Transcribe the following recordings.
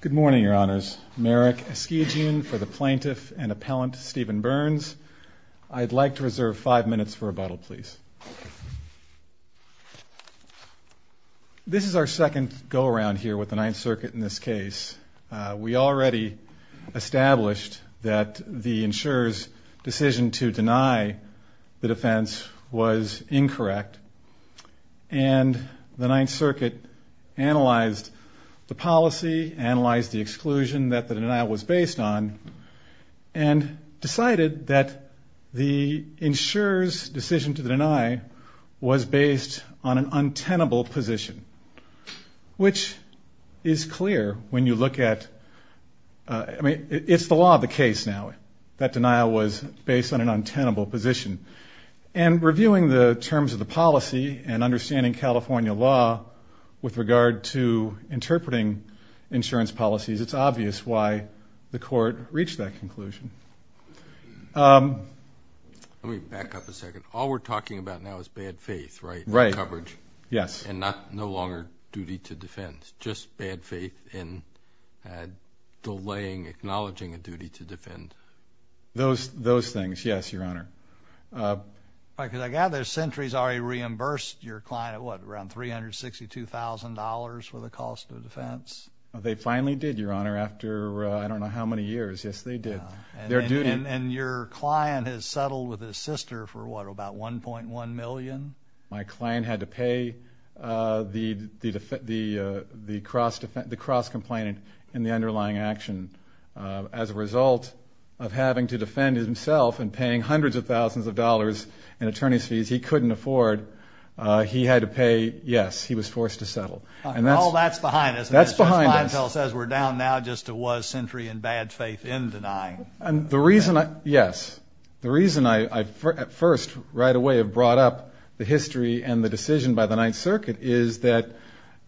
Good morning, Your Honors. Merrick Eskijian for the Plaintiff and Appellant Stephen Berns. I'd like to reserve five minutes for rebuttal, please. This is our second go-around here with the Ninth Circuit in this case. We already established that the insurer's decision to deny the defense was incorrect, and the Ninth Circuit analyzed the policy, analyzed the exclusion that the denial was based on, and decided that the insurer's decision to deny was based on an untenable position, which is clear when you look at, I mean, it's the law of the case now that denial was based on an untenable position. And reviewing the terms of the policy and understanding California law with regard to interpreting insurance policies, it's obvious why the court reached that conclusion. Let me back up a second. All we're talking about now is bad faith, right? Right. And coverage. Yes. And no longer duty to defend, just bad faith and delaying acknowledging a duty to defend. Those things, yes, Your Honor. Because I gather Sentry's already reimbursed your client, what, around $362,000 for the cost of defense? They finally did, Your Honor, after I don't know how many years. Yes, they did. And your client has settled with his sister for, what, about $1.1 million? My client had to pay the cross-complainant in the underlying action. As a result of having to defend himself and paying hundreds of thousands of dollars in attorney's fees he couldn't afford, he had to pay, yes, he was forced to settle. Oh, that's behind us. That's behind us. And as Judge Leitfeld says, we're down now just to was Sentry in bad faith in denying. Yes. The reason I, at first, right away have brought up the history and the decision by the Ninth Circuit is that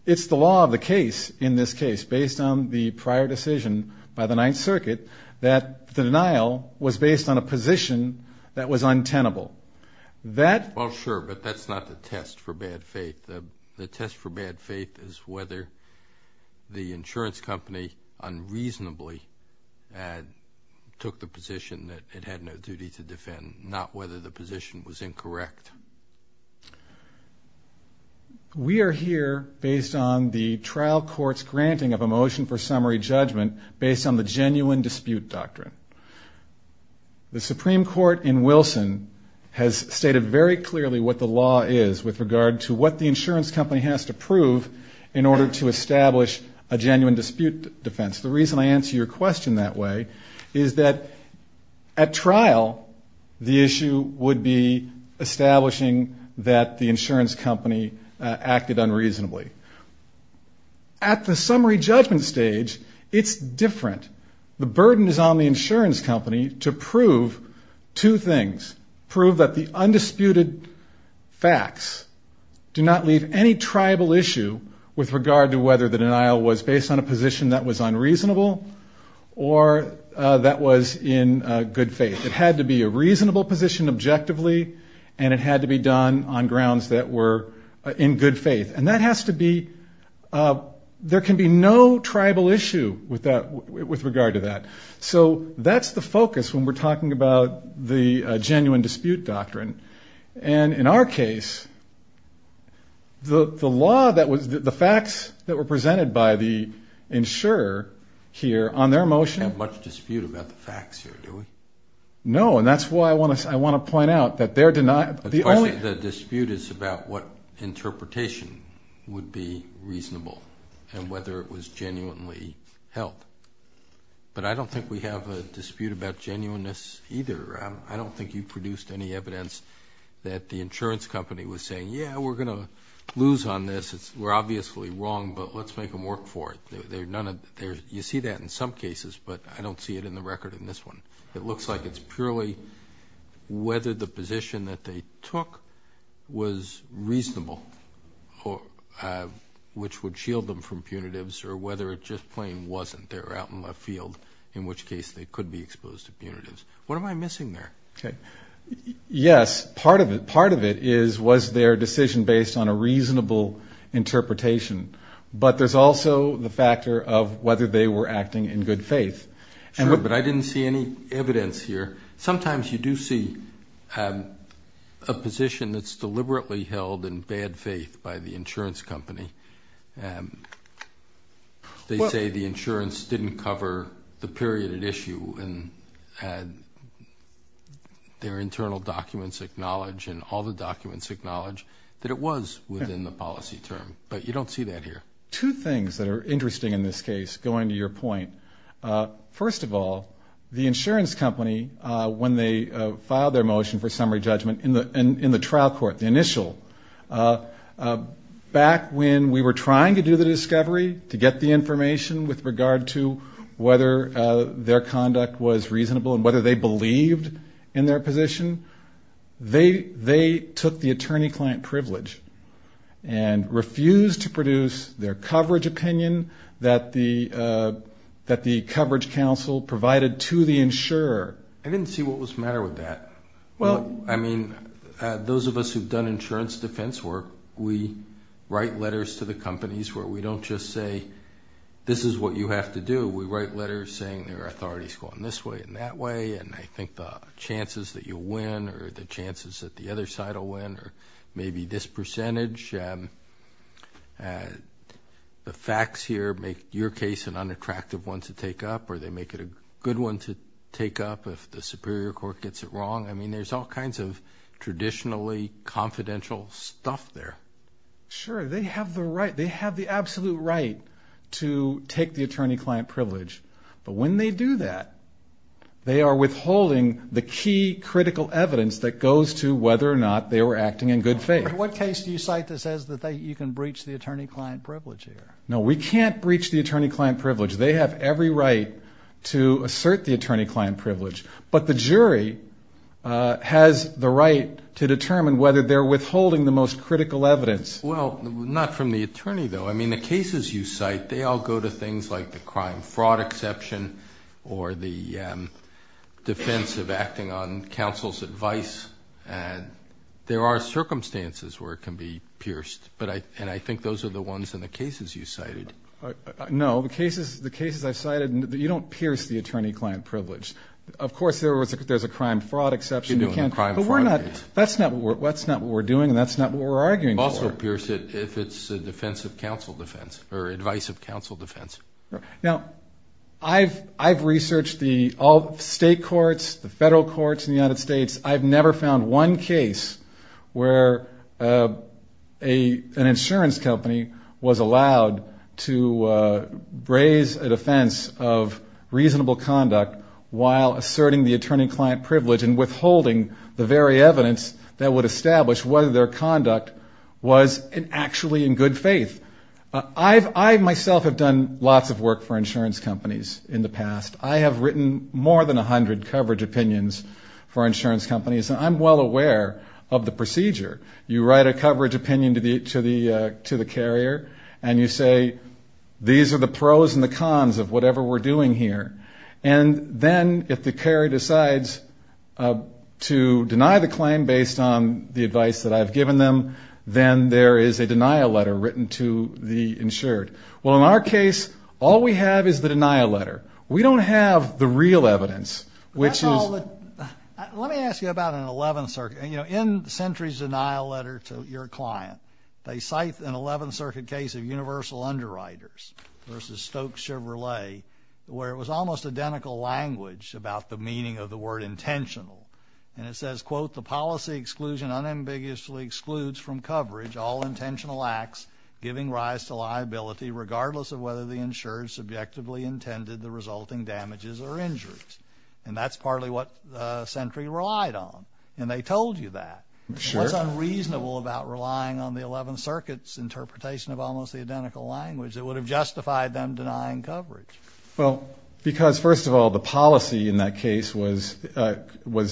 it's the law of the case in this case, based on the prior decision by the Ninth Circuit, that the denial was based on a position that was untenable. Well, sure, but that's not the test for bad faith. The test for bad faith is whether the insurance company unreasonably took the position that it had no duty to defend, not whether the position was incorrect. We are here based on the trial court's granting of a motion for summary judgment based on the genuine dispute doctrine. The Supreme Court in Wilson has stated very clearly what the law is with regard to what the insurance company has to prove in order to establish a genuine dispute defense. The reason I answer your question that way is that at trial, the issue would be establishing that the insurance company acted unreasonably. At the summary judgment stage, it's different. The burden is on the insurance company to prove two things, prove that the undisputed facts do not leave any triable issue with regard to whether the denial was based on a position that was unreasonable or that was in good faith. It had to be a reasonable position objectively, and it had to be done on grounds that were in good faith. And that has to be – there can be no triable issue with regard to that. So that's the focus when we're talking about the genuine dispute doctrine. And in our case, the law that was – the facts that were presented by the insurer here on their motion – You don't have much dispute about the facts here, do we? No, and that's why I want to point out that their denial – The dispute is about what interpretation would be reasonable and whether it was genuinely held. But I don't think we have a dispute about genuineness either. I don't think you produced any evidence that the insurance company was saying, yeah, we're going to lose on this. We're obviously wrong, but let's make them work for it. You see that in some cases, but I don't see it in the record in this one. It looks like it's purely whether the position that they took was reasonable, which would shield them from punitives, or whether it just plain wasn't. They were out in left field, in which case they could be exposed to punitives. What am I missing there? Yes, part of it is was their decision based on a reasonable interpretation, but there's also the factor of whether they were acting in good faith. Sure, but I didn't see any evidence here. Sometimes you do see a position that's deliberately held in bad faith by the insurance company. They say the insurance didn't cover the period at issue, and their internal documents acknowledge, and all the documents acknowledge that it was within the policy term, but you don't see that here. Two things that are interesting in this case, going to your point. First of all, the insurance company, when they filed their motion for summary judgment in the trial court, the initial, back when we were trying to do the discovery, to get the information with regard to whether their conduct was reasonable and whether they believed in their position, they took the attorney-client privilege and refused to produce their coverage opinion that the coverage counsel provided to the insurer. I didn't see what was the matter with that. Well, I mean, those of us who've done insurance defense work, we write letters to the companies where we don't just say, this is what you have to do. We write letters saying there are authorities going this way and that way, and I think the chances that you'll win or the chances that the other side will win or maybe this percentage. The facts here make your case an unattractive one to take up, or they make it a good one to take up if the superior court gets it wrong. I mean, there's all kinds of traditionally confidential stuff there. Sure. They have the absolute right to take the attorney-client privilege, but when they do that, they are withholding the key critical evidence that goes to whether or not they were acting in good faith. In what case do you cite this as that you can breach the attorney-client privilege here? No, we can't breach the attorney-client privilege. They have every right to assert the attorney-client privilege, but the jury has the right to determine whether they're withholding the most critical evidence. Well, not from the attorney, though. I mean, the cases you cite, they all go to things like the crime fraud exception or the defense of acting on counsel's advice. There are circumstances where it can be pierced, and I think those are the ones in the cases you cited. No, the cases I've cited, you don't pierce the attorney-client privilege. Of course, there's a crime fraud exception, but that's not what we're doing and that's not what we're arguing for. Also pierce it if it's a defense of counsel defense or advice of counsel defense. Now, I've researched all the state courts, the federal courts in the United States. I've never found one case where an insurance company was allowed to raise a defense of reasonable conduct while asserting the attorney-client privilege and withholding the very evidence that would establish whether their conduct was actually in good faith. I myself have done lots of work for insurance companies in the past. I have written more than 100 coverage opinions for insurance companies, and I'm well aware of the procedure. You write a coverage opinion to the carrier and you say, these are the pros and the cons of whatever we're doing here. And then if the carrier decides to deny the claim based on the advice that I've given them, then there is a denial letter written to the insured. Well, in our case, all we have is the denial letter. We don't have the real evidence, which is the real evidence. Let me ask you about an 11th Circuit. In Sentry's denial letter to your client, they cite an 11th Circuit case of universal underwriters versus Stokes Chevrolet, where it was almost identical language about the meaning of the word intentional. And it says, quote, the policy exclusion unambiguously excludes from coverage all intentional acts giving rise to liability, regardless of whether the insured subjectively intended the resulting damages or injuries. And that's partly what Sentry relied on. And they told you that. What's unreasonable about relying on the 11th Circuit's interpretation of almost the identical language? It would have justified them denying coverage. Well, because, first of all, the policy in that case was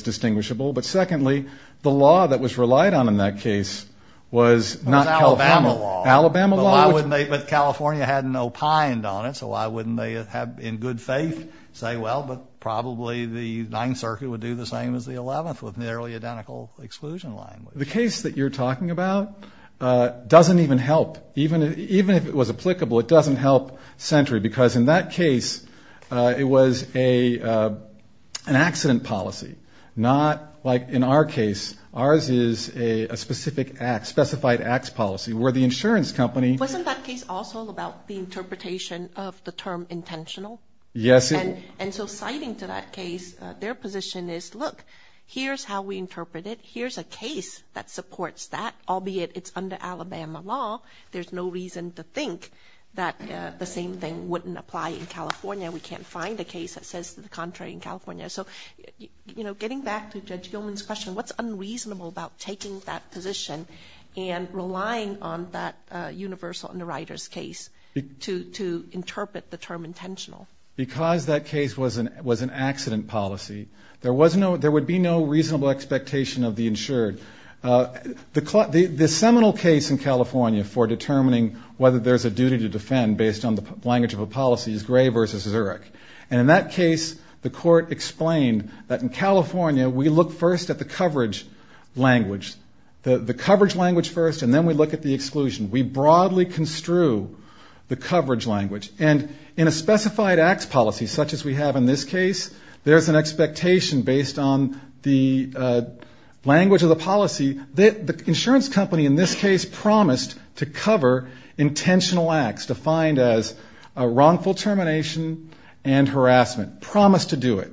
distinguishable. But, secondly, the law that was relied on in that case was Alabama law. But California had an opined on it, so why wouldn't they have in good faith say, well, but probably the 9th Circuit would do the same as the 11th with nearly identical exclusion language? The case that you're talking about doesn't even help. Even if it was applicable, it doesn't help Sentry, because in that case it was an accident policy. Not like in our case. Ours is a specific act, specified acts policy, where the insurance company. Wasn't that case also about the interpretation of the term intentional? Yes. And so citing to that case, their position is, look, here's how we interpret it. Here's a case that supports that, albeit it's under Alabama law. There's no reason to think that the same thing wouldn't apply in California. We can't find a case that says the contrary in California. So, you know, getting back to Judge Gilman's question, what's unreasonable about taking that position and relying on that universal underwriter's case to interpret the term intentional? Because that case was an accident policy, there would be no reasonable expectation of the insured. The seminal case in California for determining whether there's a duty to defend based on the language of a policy is Gray v. Zurich. And in that case, the court explained that in California we look first at the coverage language. The coverage language first, and then we look at the exclusion. We broadly construe the coverage language. And in a specified acts policy, such as we have in this case, there's an expectation based on the language of the policy. The insurance company in this case promised to cover intentional acts, defined as wrongful termination and harassment, promised to do it.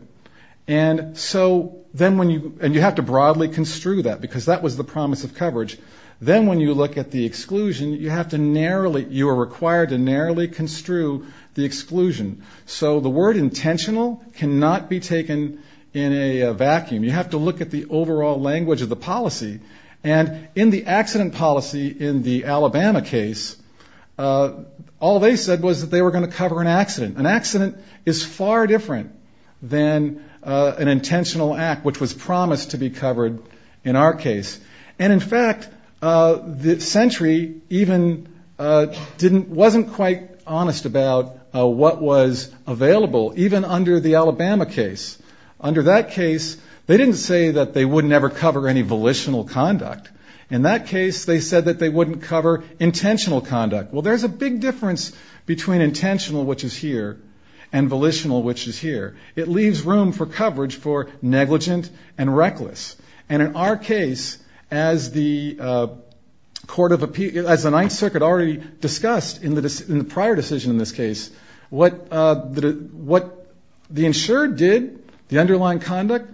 And so then when you, and you have to broadly construe that, because that was the promise of coverage. Then when you look at the exclusion, you have to narrowly, you are required to narrowly construe the exclusion. So the word intentional cannot be taken in a vacuum. You have to look at the overall language of the policy. And in the accident policy in the Alabama case, all they said was that they were going to cover an accident. An accident is far different than an intentional act, which was promised to be covered in our case. And in fact, Century even didn't, wasn't quite honest about what was available, even under the Alabama case. Under that case, they didn't say that they would never cover any volitional conduct. In that case, they said that they wouldn't cover intentional conduct. Well, there's a big difference between intentional, which is here, and volitional, which is here. It leaves room for coverage for negligent and reckless. And in our case, as the court of appeal, as the Ninth Circuit already discussed in the prior decision in this case, what the insured did, the underlying conduct,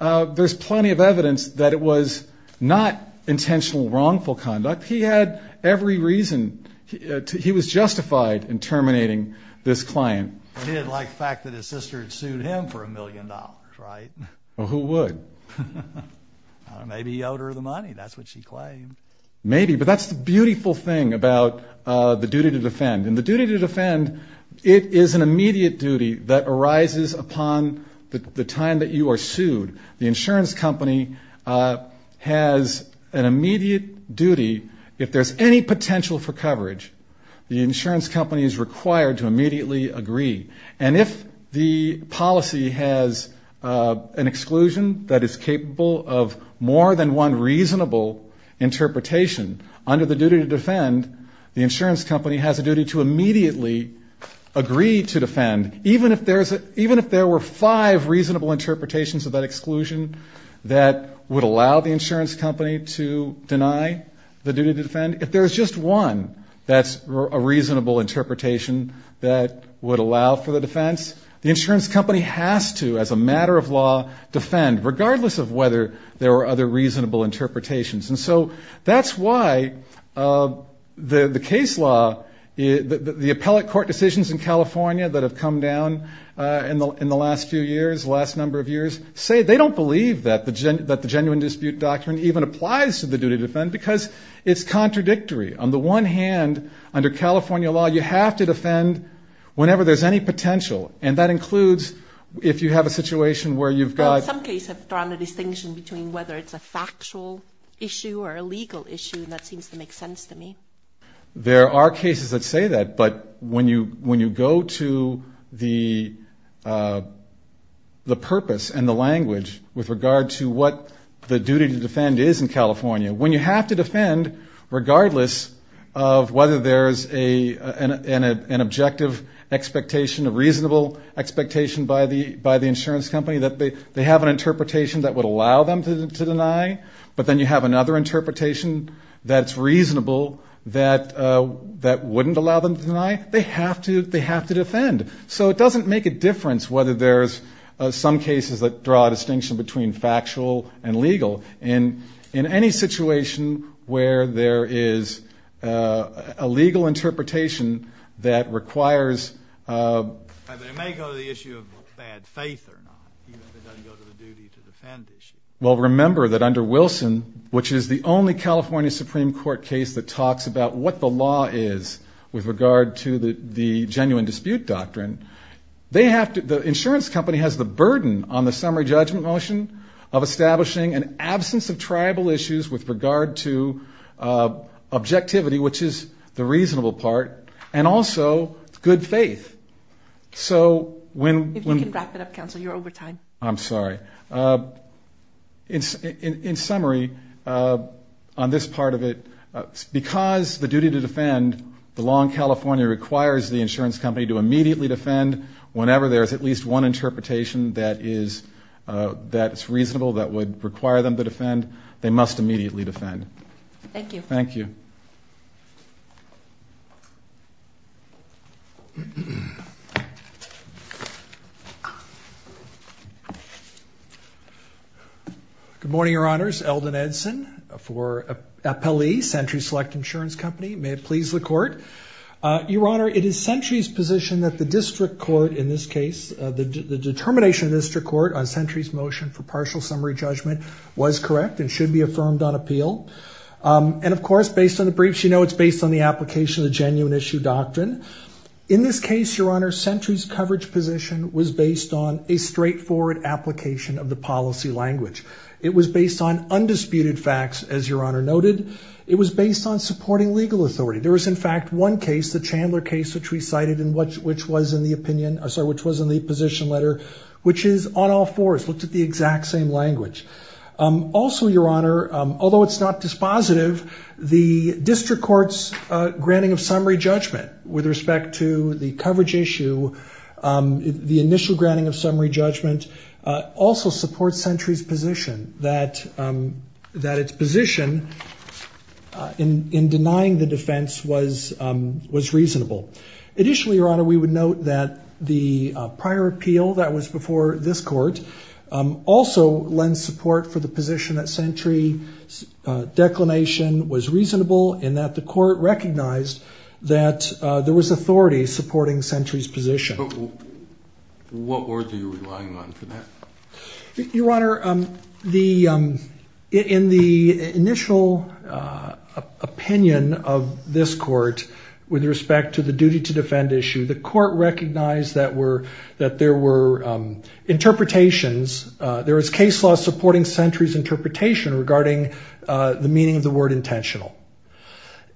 there's plenty of evidence that it was not intentional wrongful conduct. But he had every reason, he was justified in terminating this client. But he didn't like the fact that his sister had sued him for a million dollars, right? Well, who would? Maybe he owed her the money, that's what she claimed. Maybe, but that's the beautiful thing about the duty to defend. In the duty to defend, it is an immediate duty that arises upon the time that you are sued. The insurance company has an immediate duty. If there's any potential for coverage, the insurance company is required to immediately agree. And if the policy has an exclusion that is capable of more than one reasonable interpretation, under the duty to defend, the insurance company has a duty to immediately agree to defend, even if there's a, even if there were five reasonable interpretations of that exclusion that would allow the insurance company to deny the duty to defend, if there's just one that's a reasonable interpretation that would allow for the defense, the insurance company has to, as a matter of law, defend, regardless of whether there are other reasonable interpretations. And so that's why the case law, the appellate court decisions in California that have come down in the last few years, last number of years, say they don't believe that the genuine dispute doctrine even applies to the duty to defend, because it's contradictory. On the one hand, under California law, you have to defend whenever there's any potential, and that includes if you have a situation where you've got... an issue or a legal issue, and that seems to make sense to me. There are cases that say that, but when you go to the purpose and the language with regard to what the duty to defend is in California, when you have to defend, regardless of whether there's an objective expectation, a reasonable expectation by the insurance company, that they have an interpretation that would allow them to deny, but then you have another interpretation that's reasonable that wouldn't allow them to deny, they have to defend. So it doesn't make a difference whether there's some cases that draw a distinction between factual and legal. In any situation where there is a legal interpretation that requires... Well, remember that under Wilson, which is the only California Supreme Court case that talks about what the law is with regard to the genuine dispute doctrine, the insurance company has the burden on the summary judgment motion of establishing an absence of tribal issues with regard to objectivity, which is the reasonable part, and also good faith. If you can wrap it up, counsel, you're over time. I'm sorry. In summary, on this part of it, because the duty to defend, the law in California requires the insurance company to immediately defend whenever there is at least one interpretation that is reasonable, that would require them to defend, they must immediately defend. Good morning, Your Honors. Eldon Edson for Appellee, Century Select Insurance Company. May it please the Court. Your Honor, it is Century's position that the district court in this case, the determination of the district court on Century's motion for partial summary judgment was correct and should be affirmed on appeal, and of course, based on the briefs, you know it's based on the application of the genuine issue doctrine. In this case, Your Honor, Century's coverage position was based on a straightforward application of the policy language. It was based on undisputed facts, as Your Honor noted. It was based on supporting legal authority. There was, in fact, one case, the Chandler case, which we cited, which was in the position letter, which is on all fours, looked at the exact same language. Also, Your Honor, although it's not dispositive, the district court's granting of summary judgment with respect to the coverage issue, the initial granting of summary judgment, also supports Century's position that its position in denying the defense was reasonable. Additionally, Your Honor, we would note that the prior appeal that was before this court also lends support for the position that Century's declination was reasonable and that the court recognized that there was authority supporting Century's position. What word are you relying on for that? Your Honor, in the initial opinion of this court with respect to the duty to defend issue, the court recognized that there were interpretations, there was case law supporting Century's interpretation regarding the meaning of the word intentional,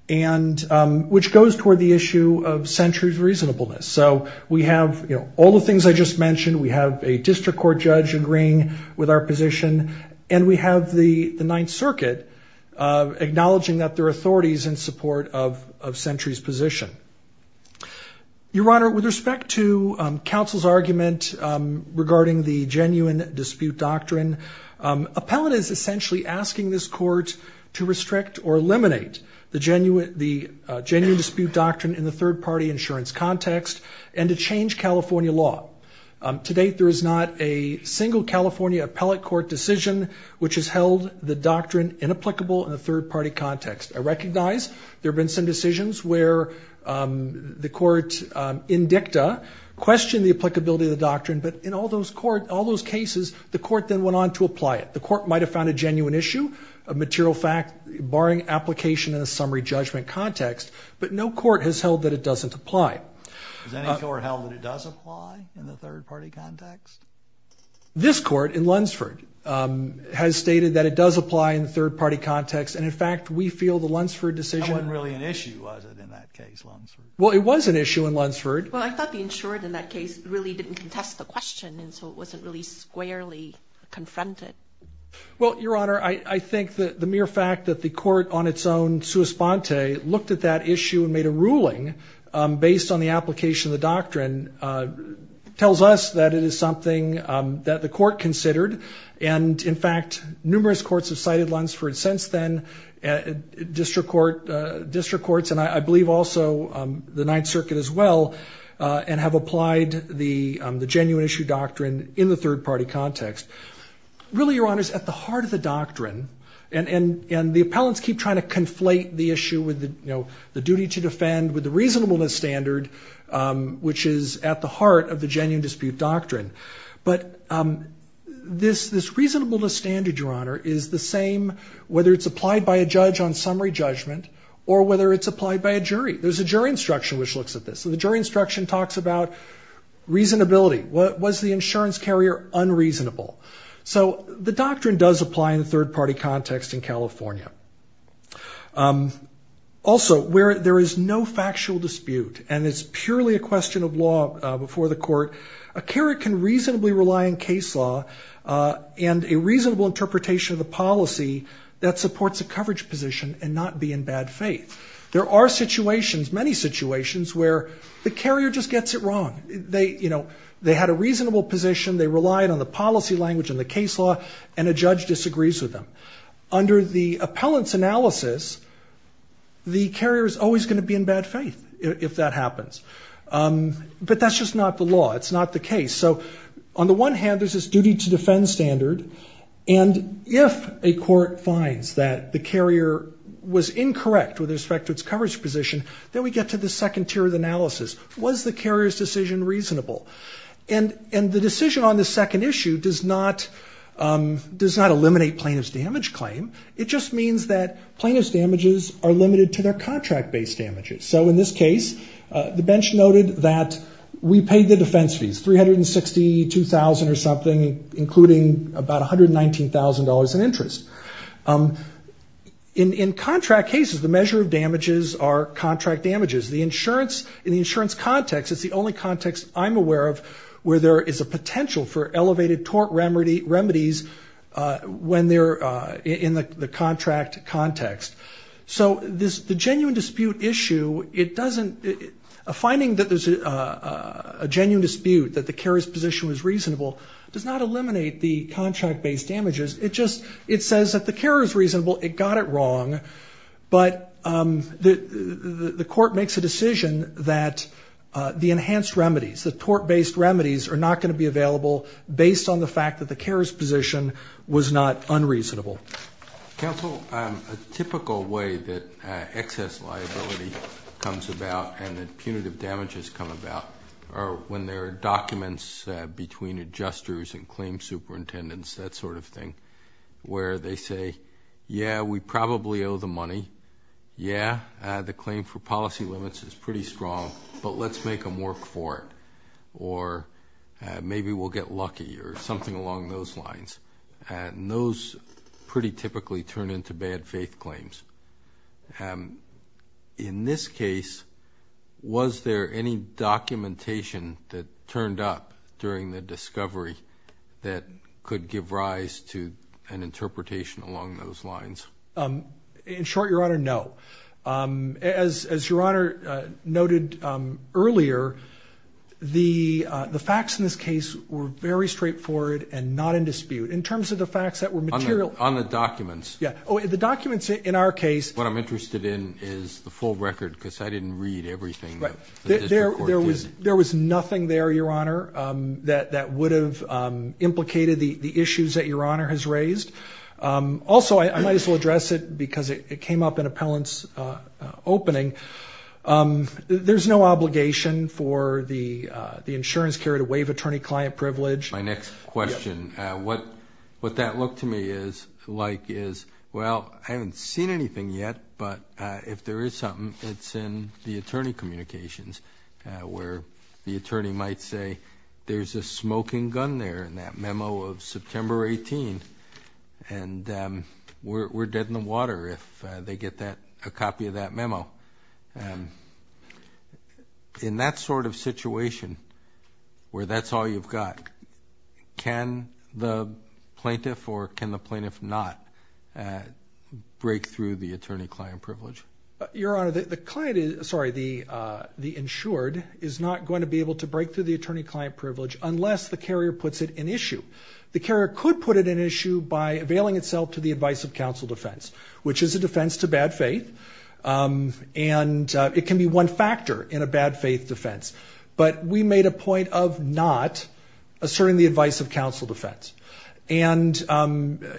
which goes toward the issue of Century's reasonableness. So we have all the things I just mentioned. We have a district court judge agreeing with our position, and we have the Ninth Circuit acknowledging that there are authorities in support of Century's position. Your Honor, with respect to counsel's argument regarding the genuine dispute doctrine, appellate is essentially asking this court to restrict or eliminate the genuine dispute doctrine in the third-party insurance context and to change California law. To date, there is not a single California appellate court decision which has held the doctrine inapplicable in a third-party context. I recognize there have been some decisions where the court in dicta questioned the applicability of the doctrine, but in all those cases, the court then went on to apply it. The court might have found a genuine issue, a material fact, barring application in a summary judgment context, but no court has held that it doesn't apply. Has any court held that it does apply in the third-party context? This court in Lunsford has stated that it does apply in the third-party context, and in fact, we feel the Lunsford decision... Well, it was an issue in Lunsford. Well, I thought the insured in that case really didn't contest the question, and so it wasn't really squarely confronted. Well, Your Honor, I think the mere fact that the court on its own, sua sponte, looked at that issue and made a ruling based on the application of the doctrine tells us that it is something that the court considered, and in fact, numerous courts have cited Lunsford since then, district courts, and I believe also the Ninth Circuit as well, and have applied the genuine issue doctrine in the third-party context. Really, Your Honor, it's at the heart of the doctrine, and the appellants keep trying to conflate the issue with the duty to defend, with the reasonableness standard, which is at the heart of the genuine dispute doctrine, but this reasonableness standard, Your Honor, is the same whether it's applied by a judge on summary judgment or whether it's applied by a jury. There's a jury instruction which looks at this, and the jury instruction talks about reasonability. Was the insurance carrier unreasonable? So the doctrine does apply in the third-party context in California. Also, where there is no factual dispute, and it's purely a question of law before the court, a carrier can reasonably rely on case law and a reasonable interpretation of the policy that supports a coverage position and not be in bad faith. There are situations, many situations, where the carrier just gets it wrong. They, you know, they had a reasonable position, they relied on the policy language and the case law, and a judge disagrees with them. Under the appellant's analysis, the carrier is always going to be in bad faith if that happens. But that's just not the law. It's not the case. So on the one hand, there's this duty to defend standard, and if a court finds that the carrier was incorrect with respect to its coverage position, then we get to the second tier of analysis. Was the carrier's decision reasonable? And the decision on the second issue does not eliminate plaintiff's damage claim. It just means that plaintiff's damages are limited to their contract-based damages. So in this case, the bench noted that we paid the defense fees, $362,000 or something, including about $119,000 in interest. In contract cases, the measure of damages are contract damages. In the insurance context, it's the only context I'm aware of where there is a potential for elevated tort remedies when they're in the contract context. So the genuine dispute issue, it doesn't, a finding that there's a genuine dispute, that the carrier's position was reasonable, does not eliminate the contract-based damages. It just, it says that the carrier's reasonable, it got it wrong, but the court makes a decision that the enhanced remedies, the tort-based remedies, are not going to be available based on the fact that the carrier's position was not unreasonable. Counsel, a typical way that excess liability comes about and that punitive damages come about are when there are documents between adjusters and claim superintendents, that sort of thing, where they say, yeah, we probably owe the money, yeah, the claim for policy limits is pretty strong, but let's make them work for it, or maybe we'll get lucky, or something along those lines, and those pretty typically turn into bad faith claims. In this case, was there any documentation that turned up during the discovery that could give rise to an interpretation along those lines? In short, Your Honor, no. As Your Honor noted earlier, the facts in this case were very straightforward and not in dispute. In terms of the facts that were material... On the documents. Yeah. Oh, the documents in our case... What I'm interested in is the full record, because I didn't read everything that the district court did. There's no obligation for the insurance carrier to waive attorney-client privilege. My next question, what that looked to me like is, well, I haven't seen anything yet, but if there is something, it's in the attorney communications, where the attorney might say, there's a smoking gun there in that memo of September 18th, and we're dead in the water if they get a copy of that memo. In that sort of situation, where that's all you've got, can the plaintiff or can the plaintiff not break through the attorney-client privilege? Your Honor, the insured is not going to be able to break through the attorney-client privilege unless the carrier puts it in issue. The carrier could put it in issue by availing itself to the advice of counsel defense, which is a defense to bad faith, and it can be one factor in a bad faith defense. But we made a point of not asserting the advice of counsel defense. And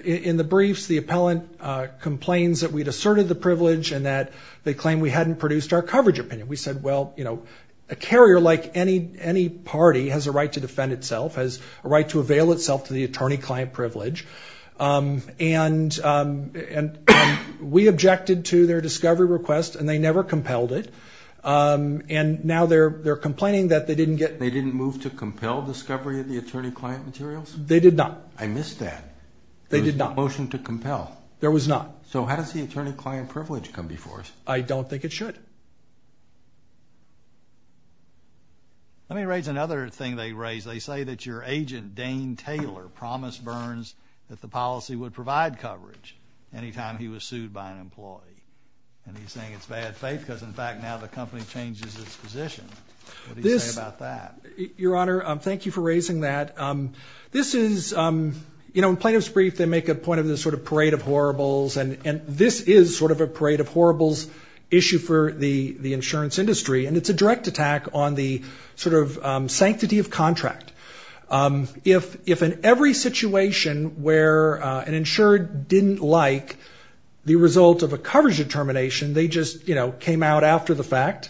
in the briefs, the appellant complains that we'd asserted the privilege and that they claim we hadn't produced our coverage opinion. We said, well, a carrier, like any party, has a right to defend itself, has a right to avail itself to the attorney-client privilege, and we objected to their discovery request, and they never compelled it. And now they're complaining that they didn't get... I don't think it should. Let me raise another thing they raised. They say that your agent, Dane Taylor, promised Burns that the policy would provide coverage any time he was sued by an employee. And he's saying it's bad faith because, in fact, now the company changes its position. What do you say about that? Your Honor, thank you for raising that. This is, you know, in plaintiff's brief, they make a point of this sort of parade of horribles, and this is sort of a parade of horribles issue for the insurance industry, and it's a direct attack on the sort of sanctity of contract. If in every situation where an insurer didn't like the result of a coverage determination, they just, you know, came out after the fact,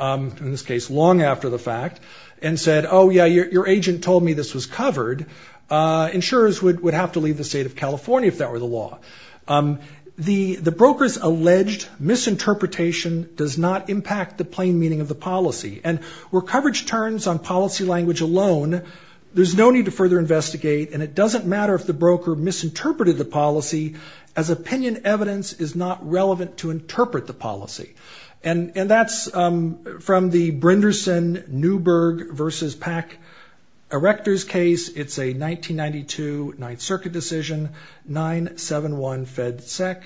in this case long after the fact, and said, oh, yeah, your agent told me this was covered, insurers would have to leave the state of California if that were the law. The broker's alleged misinterpretation does not impact the plain meaning of the policy, and where coverage turns on policy language alone, there's no need to further investigate, and it doesn't matter if the broker misinterpreted the policy, as opinion evidence is not relevant to interpret the policy. And that's from the Brinderson Newberg versus Pack Erector's case. It's a 1992 Ninth Circuit decision, 971 Fed Sec,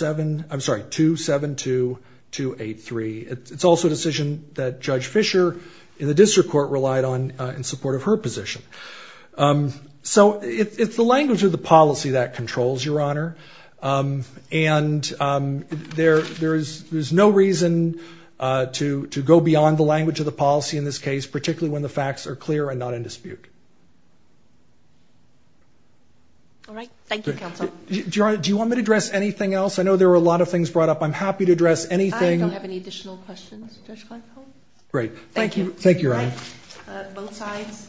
I'm sorry, 272283. It's also a decision that Judge Fisher in the district court relied on in support of her position. So it's the language of the policy that controls, Your Honor, and there's no reason to go beyond the language of the policy in this case, particularly when the facts are clear and not in dispute. All right, thank you, counsel. Your Honor, do you want me to address anything else? I know there were a lot of things brought up. I'm happy to address anything. I don't have any additional questions, Judge Kleinfeld. Great, thank you, Your Honor. Both sides.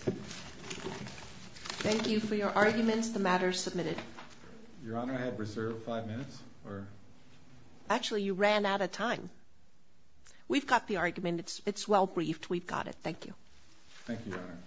Thank you for your arguments. The matter is submitted. Your Honor, I have reserved five minutes. Actually, you ran out of time. We've got the argument. It's well briefed. We've got it. Thank you. Thank you, Your Honor.